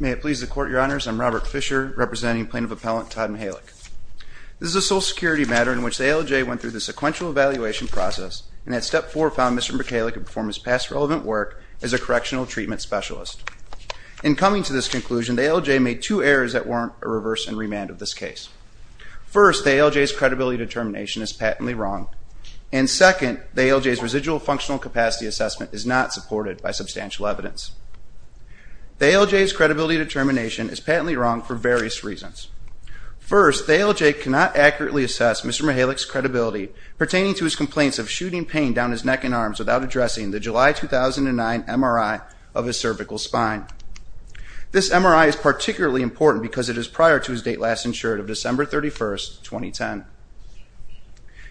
May it please the Court, Your Honors, I'm Robert Fisher, representing Plaintiff Appellant Todd Michalec. This is a Social Security matter in which the ALJ went through the sequential evaluation process, and at Step 4 found Mr. Michalec had performed his past relevant work as a correctional treatment specialist. In coming to this conclusion, the ALJ made two errors that warrant a reverse and remand of this case. First, the ALJ's credibility determination is patently wrong, and second, the ALJ's residual functional capacity assessment is not supported by substantial evidence. The ALJ's credibility determination is patently wrong for various reasons. First, the ALJ cannot accurately assess Mr. Michalec's credibility pertaining to his complaints of shooting pain down his neck and arms without addressing the July 2009 MRI of his cervical spine. This MRI is particularly important because it is prior to his date last insured of December 31, 2010.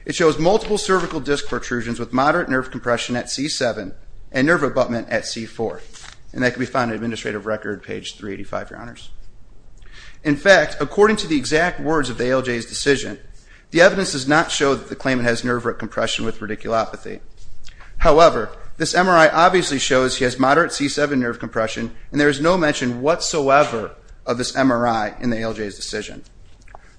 It shows multiple cervical disc protrusions with moderate nerve compression at C7 and nerve abutment at C4, and that can be found in Administrative Record page 385, Your Honors. In fact, according to the exact words of the ALJ's decision, the evidence does not show that the claimant has nerve compression with radiculopathy. However, this MRI obviously shows he has moderate C7 nerve compression, and there is no mention whatsoever of this MRI in the ALJ's decision.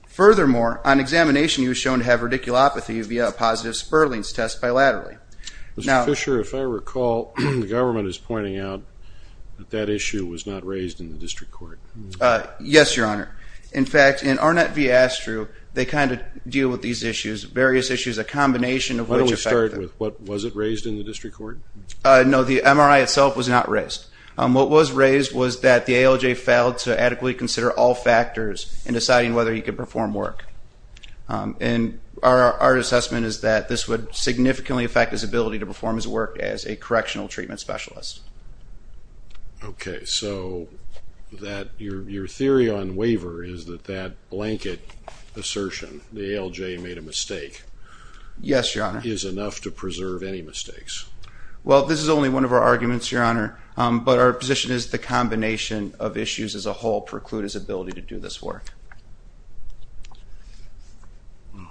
Furthermore, on examination he was shown to have radiculopathy via a positive Sperling's test bilaterally. Mr. Fisher, if I recall, the government is pointing out that that issue was not raised in the District Court. Yes, Your Honor. In fact, in Arnett v. Astru, they kind of deal with these issues, various issues, a combination of which affect them. Why don't we start with what was it raised in the District Court? No, the MRI itself was not raised. What was raised was that the ALJ failed to adequately consider all factors in deciding whether he could perform work. And our assessment is that this would significantly affect his ability to perform his work as a correctional treatment specialist. Okay, so your theory on waiver is that that blanket assertion, the ALJ made a mistake, Yes, Your Honor. is enough to preserve any mistakes. Well, this is only one of our arguments, Your Honor, but our position is the combination of issues as a whole preclude his ability to do this work. All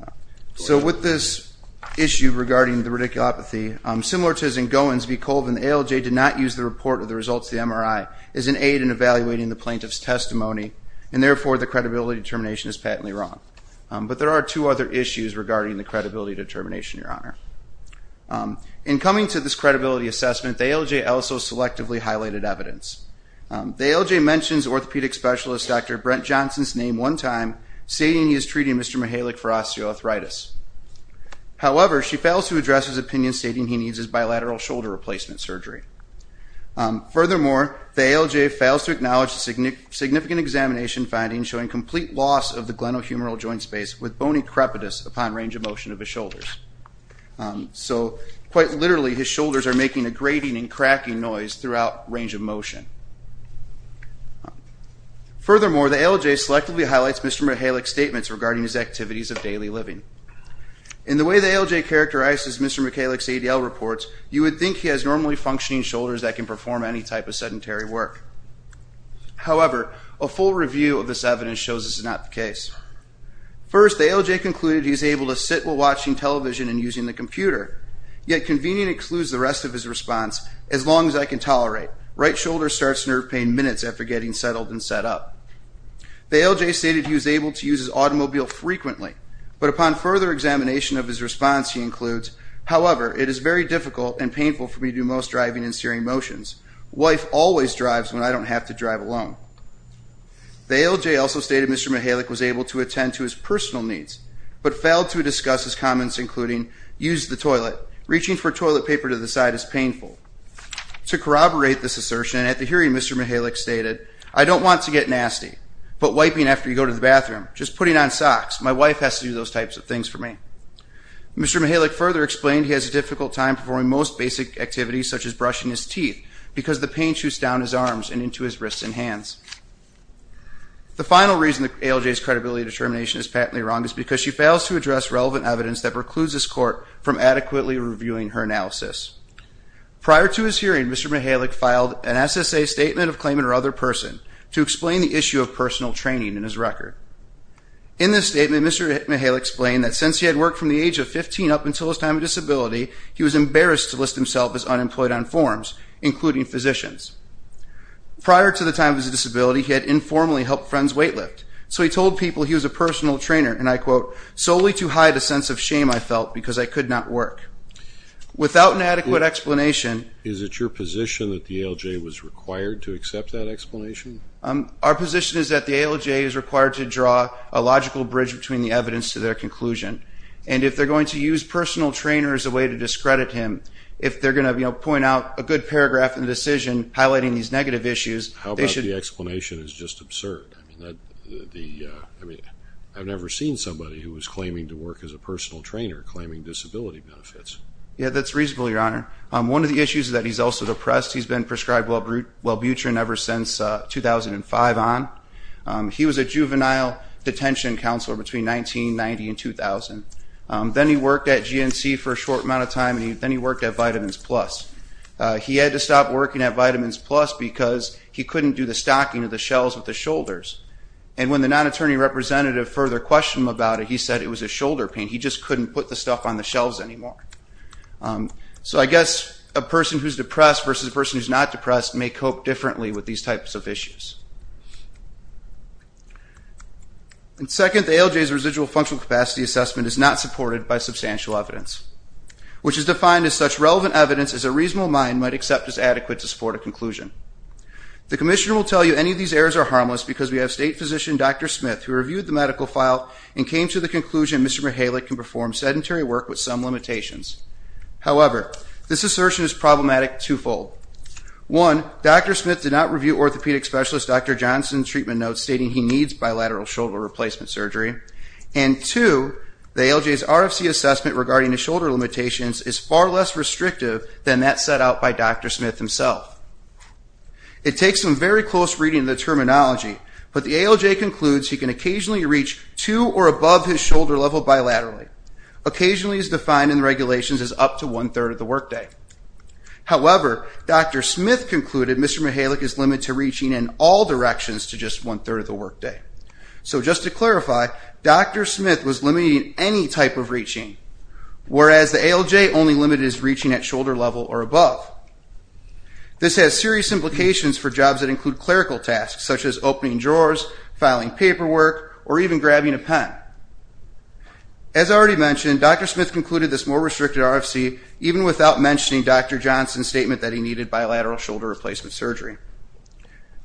right. So with this issue regarding the radiculopathy, similar to as in Goins v. Colvin, the ALJ did not use the report of the results of the MRI as an aid in evaluating the plaintiff's testimony, and therefore the credibility determination is patently wrong. But there are two other issues regarding the credibility determination, Your Honor. In coming to this credibility assessment, the ALJ also used selectively highlighted evidence. The ALJ mentions orthopedic specialist Dr. Brent Johnson's name one time, stating he is treating Mr. Mihalik for osteoarthritis. However, she fails to address his opinion stating he needs his bilateral shoulder replacement surgery. Furthermore, the ALJ fails to acknowledge the significant examination finding showing complete loss of the glenohumeral joint space with bony crepitus upon range of motion of his shoulders. So quite literally, his shoulders are making a grating and cracking noise throughout range of motion. Furthermore, the ALJ selectively highlights Mr. Mihalik's statements regarding his activities of daily living. In the way the ALJ characterizes Mr. Mihalik's ADL reports, you would think he has normally functioning shoulders that can perform any type of sedentary work. However, a full review of this evidence shows this is not the case. First, the ALJ concluded he is able to sit while watching television and using the The ALJ stated he was able to use his automobile frequently. But upon further examination of his response, he includes However, it is very difficult and painful for me to do most driving and steering motions. Wife always drives when I don't have to drive alone. The ALJ also stated Mr. Mihalik was able to attend to his personal needs but failed to discuss his comments including using the toilet, reaching for toilet paper to flush the toilet, and putting toilet paper to the side is painful. To corroborate this assertion, at the hearing Mr. Mihalik stated I don't want to get nasty, but wiping after you go to the bathroom, just putting on socks, my wife has to do those types of things for me. Mr. Mihalik further explained he has a difficult time performing most basic activities such as brushing his teeth because the pain shoots down his arms and into his wrists and hands. The final reason the ALJ's credibility determination is patently wrong is because she fails to address relevant evidence that precludes this court from adequately reviewing her analysis. Prior to his hearing, Mr. Mihalik filed an SSA statement of claimant or other person to explain the issue of personal training in his record. In this statement, Mr. Mihalik explained that since he had worked from the age of 15 up until his time of disability, he was embarrassed to list himself as unemployed on forms, including physicians. Prior to the time of his disability, he had informally helped friends weightlift, so he told people he was a personal trainer, and I quote, solely to hide a sense of shame I felt because I could not work. Without an adequate explanation Is it your position that the ALJ was required to accept that explanation? Our position is that the ALJ is required to draw a logical bridge between the evidence to their conclusion, and if they're going to use personal trainer as a way to discredit him, if they're going to point out a good paragraph in the decision highlighting these negative issues, they should The explanation is just absurd. I've never seen somebody who was claiming to work as a personal trainer claiming disability benefits. Yeah, that's reasonable, Your Honor. One of the issues is that he's also depressed. He's been prescribed Welbutrin ever since 2005 on. He was a juvenile detention counselor between 1990 and 2000. Then he worked at GNC for a short amount of time, and then he worked at Vitamins Plus. He had to stop working at Vitamins Plus to do the stocking of the shelves with the shoulders, and when the non-attorney representative further questioned him about it, he said it was a shoulder pain. He just couldn't put the stuff on the shelves anymore. So I guess a person who's depressed versus a person who's not depressed may cope differently with these types of issues. And second, the ALJ's residual functional capacity assessment is not supported by substantial evidence, which is defined as such relevant evidence as a reasonable mind might accept as adequate to support a conclusion. The commissioner will tell you any of these errors are harmless because we have state physician Dr. Smith, who reviewed the medical file and came to the conclusion Mr. Mihalik can perform sedentary work with some limitations. However, this assertion is problematic twofold. One, Dr. Smith did not review orthopedic specialist Dr. Johnson's treatment notes stating he needs bilateral shoulder replacement surgery. And two, the ALJ's RFC assessment regarding the shoulder limitations is far less restrictive than that set out by Dr. Smith himself. It takes some very close reading of the terminology, but the ALJ concludes he can occasionally reach two or above his shoulder level bilaterally. Occasionally is defined in the regulations as up to one-third of the workday. However, Dr. Smith concluded Mr. Mihalik is limited to reaching in all directions to just one-third of the workday. So just to clarify, Dr. Smith was limiting any type of reaching, whereas the ALJ only limited his reaching at shoulder level or above. This has serious implications for jobs that include clerical tasks, such as opening drawers, filing paperwork, or even grabbing a pen. As already mentioned, Dr. Smith concluded this more restricted RFC even without mentioning Dr. Johnson's statement that he needed bilateral shoulder replacement surgery.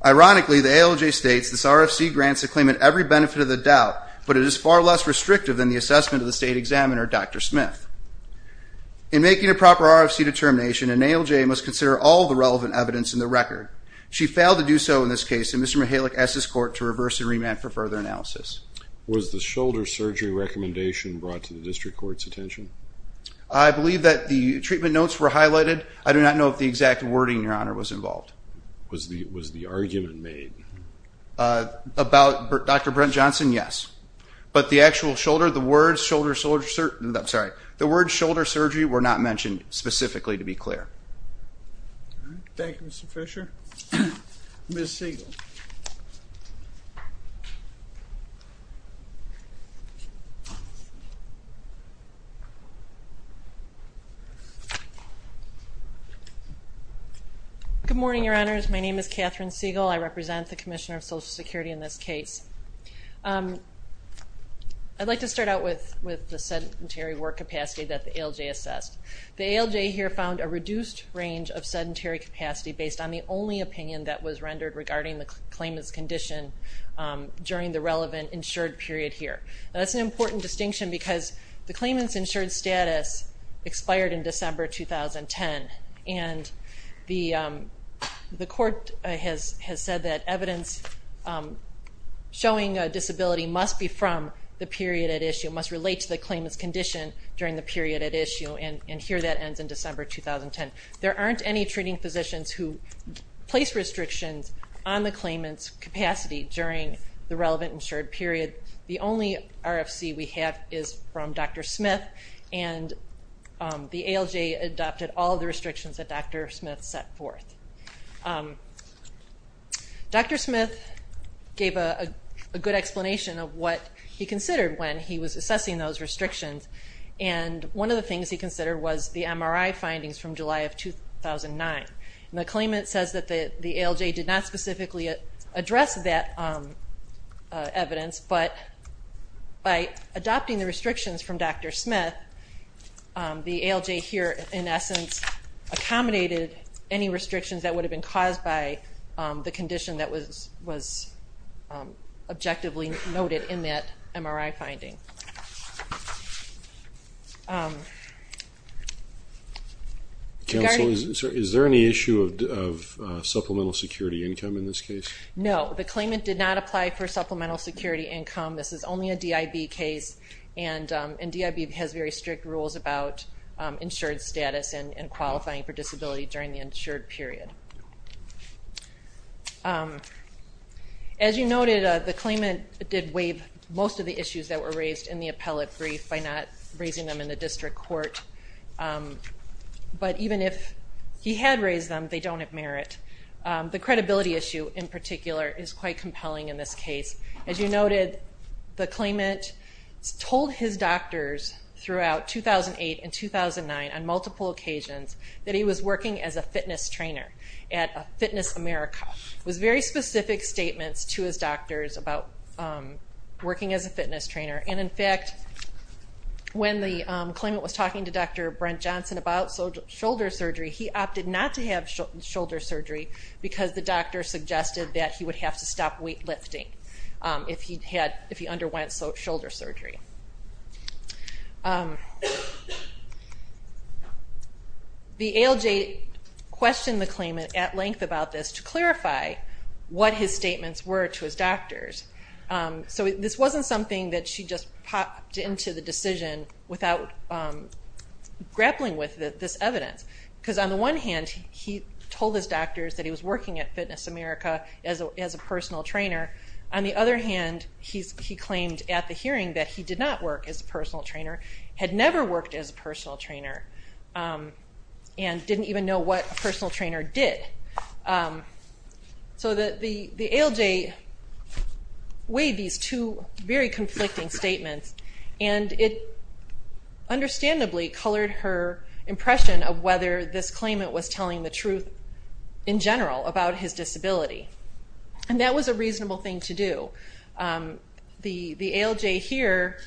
Ironically, the ALJ states this RFC grants a claimant every benefit of the doubt, but it is far less restrictive than the assessment of the claimant. In making a proper RFC determination, an ALJ must consider all the relevant evidence in the record. She failed to do so in this case, and Mr. Mihalik asked his court to reverse and remand for further analysis. Was the shoulder surgery recommendation brought to the District Court's attention? I believe that the treatment notes were highlighted. I do not know if the exact wording, Your Honor, was involved. Was the argument made? About Dr. Brent Johnson, yes. But the actual shoulder, the words shoulder surgery were not mentioned specifically, to be clear. Thank you, Mr. Fisher. Ms. Siegel. Good morning, Your Honors. My name is Catherine Siegel. I represent the Commissioner of Social Security in this case. I'd like to start out with the sedentary work capacity that the ALJ assessed. The ALJ here found a reduced range of sedentary capacity based on the only opinion that was rendered regarding the claimant's condition during the relevant insured period here. That's an important distinction because the claimant's insured status expired in December 2010, and the court has said that evidence showing a disability must be from the period at issue, must relate to the claimant's condition during the period at issue, and here that ends in December 2010. There aren't any treating physicians who place restrictions on the claimant's capacity during the relevant insured period. The only RFC we have is from Dr. Smith, and the ALJ adopted all the restrictions that Dr. Smith set forth. Dr. Smith gave a good explanation of what he considered when he was assessing those restrictions, and one of the things he considered was the MRI findings from July of 2009. The claimant says that the ALJ did not specifically address that evidence, but by adopting the restrictions from Dr. Smith, the ALJ here in essence accommodated any restrictions that would have been caused by the condition that was objectively noted in that MRI finding. Counsel, is there any issue of supplemental security income in this case? No, the claimant did not apply for supplemental security income. This is only a DIB case, and DIB has very strict rules about insured status and qualifying for disability during the insured period. As you noted, the claimant did waive most of the issues that were raised in the appellate brief by not raising them in the district court, but even if he had raised them, they don't have merit. The credibility issue in particular is quite compelling in this case. As you noted, the claimant told his doctors throughout 2008 and 2009 on multiple occasions that he was working as a fitness trainer at Fitness America. It was very specific statements to his doctors about working as a fitness trainer. In fact, when the claimant was talking to Dr. Brent Johnson about shoulder surgery, he opted not to have shoulder surgery because the doctor suggested that he would have to stop weight lifting if he underwent shoulder surgery. The ALJ questioned the claimant at length about this to clarify what his statements were to his doctors. So this wasn't something that she just popped into the decision without grappling with this evidence. Because on the one hand, he told his doctors that he was working at Fitness America as a personal trainer. On the other hand, he claimed at the hearing that he did not work as a personal trainer, had never worked as a personal trainer, and didn't even know what a personal trainer did. The ALJ weighed these two very conflicting statements and it understandably colored her impression of whether this claimant was telling the truth in general about his disability. And that was a reasonable thing to do. The ALJ here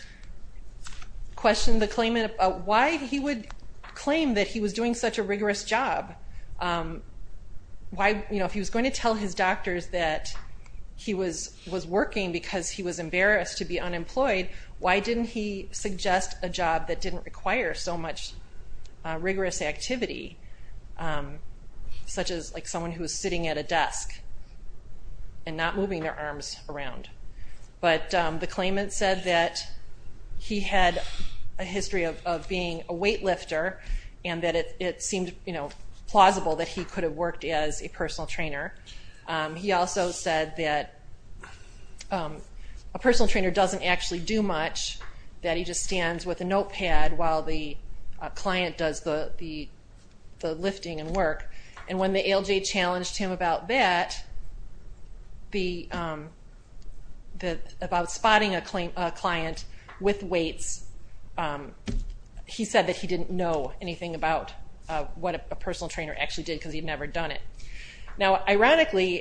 questioned the claimant about why he would claim that he was doing such a rigorous job. If he was going to tell his doctors that he was working because he was embarrassed to be unemployed, why didn't he suggest a job that didn't require so much rigorous activity? Such as someone who was sitting at a desk and not moving their arms around. But the claimant said that he had a history of being a weightlifter and that it seemed plausible that he could have worked as a personal trainer. He also said that a personal trainer doesn't actually do much, that he just stands with a notepad while the client does the lifting and work. And when the ALJ challenged him about that, about spotting a client with weights, he said that he didn't know anything about what a personal trainer actually did because he'd never done it. Now ironically,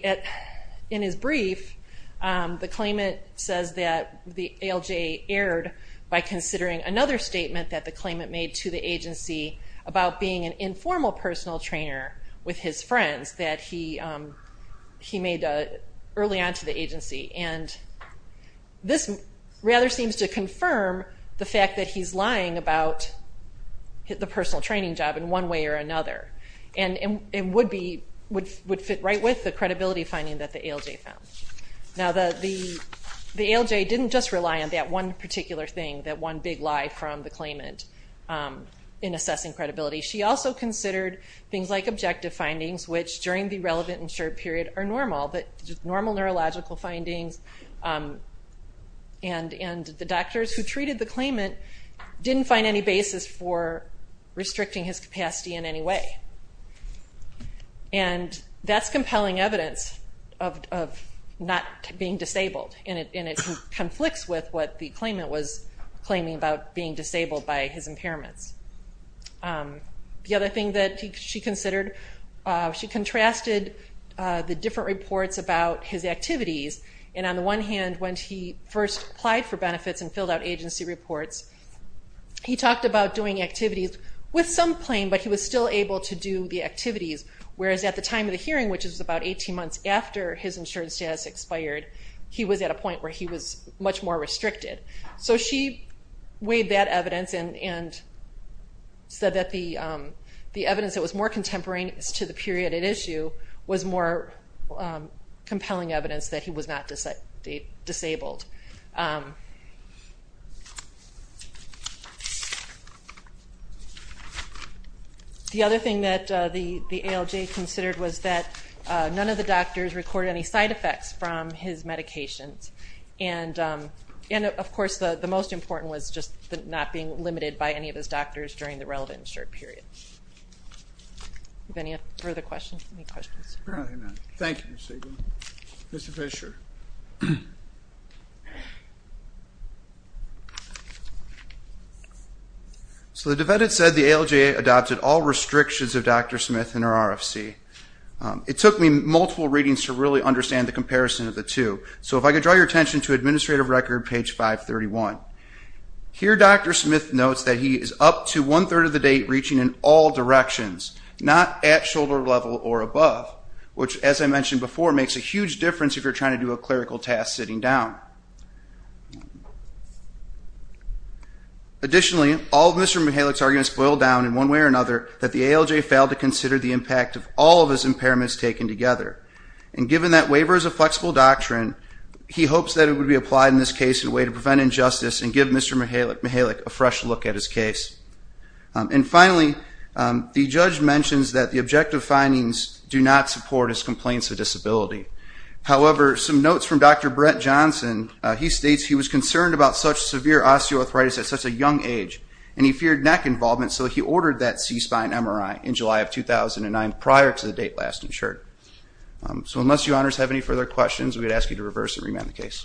in his brief, the claimant says that the ALJ erred by considering another statement that the claimant made to the agency about being an informal personal trainer with his friends that he made early on to the agency. And this rather seems to confirm the fact that he's lying about the personal training job in one way or another. And would fit right with the credibility finding that the ALJ found. Now the ALJ didn't just rely on that one particular thing, that one big lie from the claimant in his brief. He also considered things like objective findings, which during the relevant and short period are normal. Normal neurological findings and the doctors who treated the claimant didn't find any basis for restricting his capacity in any way. And that's compelling evidence of not being disabled. And it conflicts with what the claimant was claiming about being disabled by his impairments. The other thing that she considered, she contrasted the different reports about his activities and on the one hand, when he first applied for benefits and filled out agency reports, he talked about doing activities with some claim, but he was still able to do the activities. Whereas at the time of the hearing, which is about 18 months after his insurance status expired, he was at a point where he was much more restricted. So she weighed that evidence and said that the evidence that was more contemporaneous to the period at issue was more compelling evidence that he was not disabled. The other thing that the ALJ considered was that none of the doctors recorded any side effects from his medications. And of course, the most important was not being limited by any of his doctors during the relevant period. Any further questions? Thank you, Ms. Siegel. Mr. Fisher. So the defendant said the ALJ adopted all restrictions of Dr. Smith and her RFC. It took me multiple readings to really understand the comparison of the two. So if I could draw your attention to Administrative Record, page 531. Here Dr. Smith notes that he is up to one-third of the date reaching in all directions, not at shoulder level or above, which as I mentioned before, makes a huge difference if you're trying to do a clerical task sitting down. Additionally, all of Mr. Mihalik's arguments boil down in one way or another that the ALJ failed to consider the impact of all of his impairments taken together. And given that waiver is a flexible doctrine, he hopes that it would be applied in this case in a way to prevent injustice and give Mr. Mihalik a fresh look at his case. And finally, the judge mentions that the objective findings do not support his complaints of disability. However, some notes from Dr. Brett Johnson, he states he was concerned about such severe osteoarthritis at such a young age, and he feared neck involvement, so he ordered that C-spine MRI in July of 2009 prior to the date last insured. So unless you honors have any further questions, we would ask you to reverse and remand the case.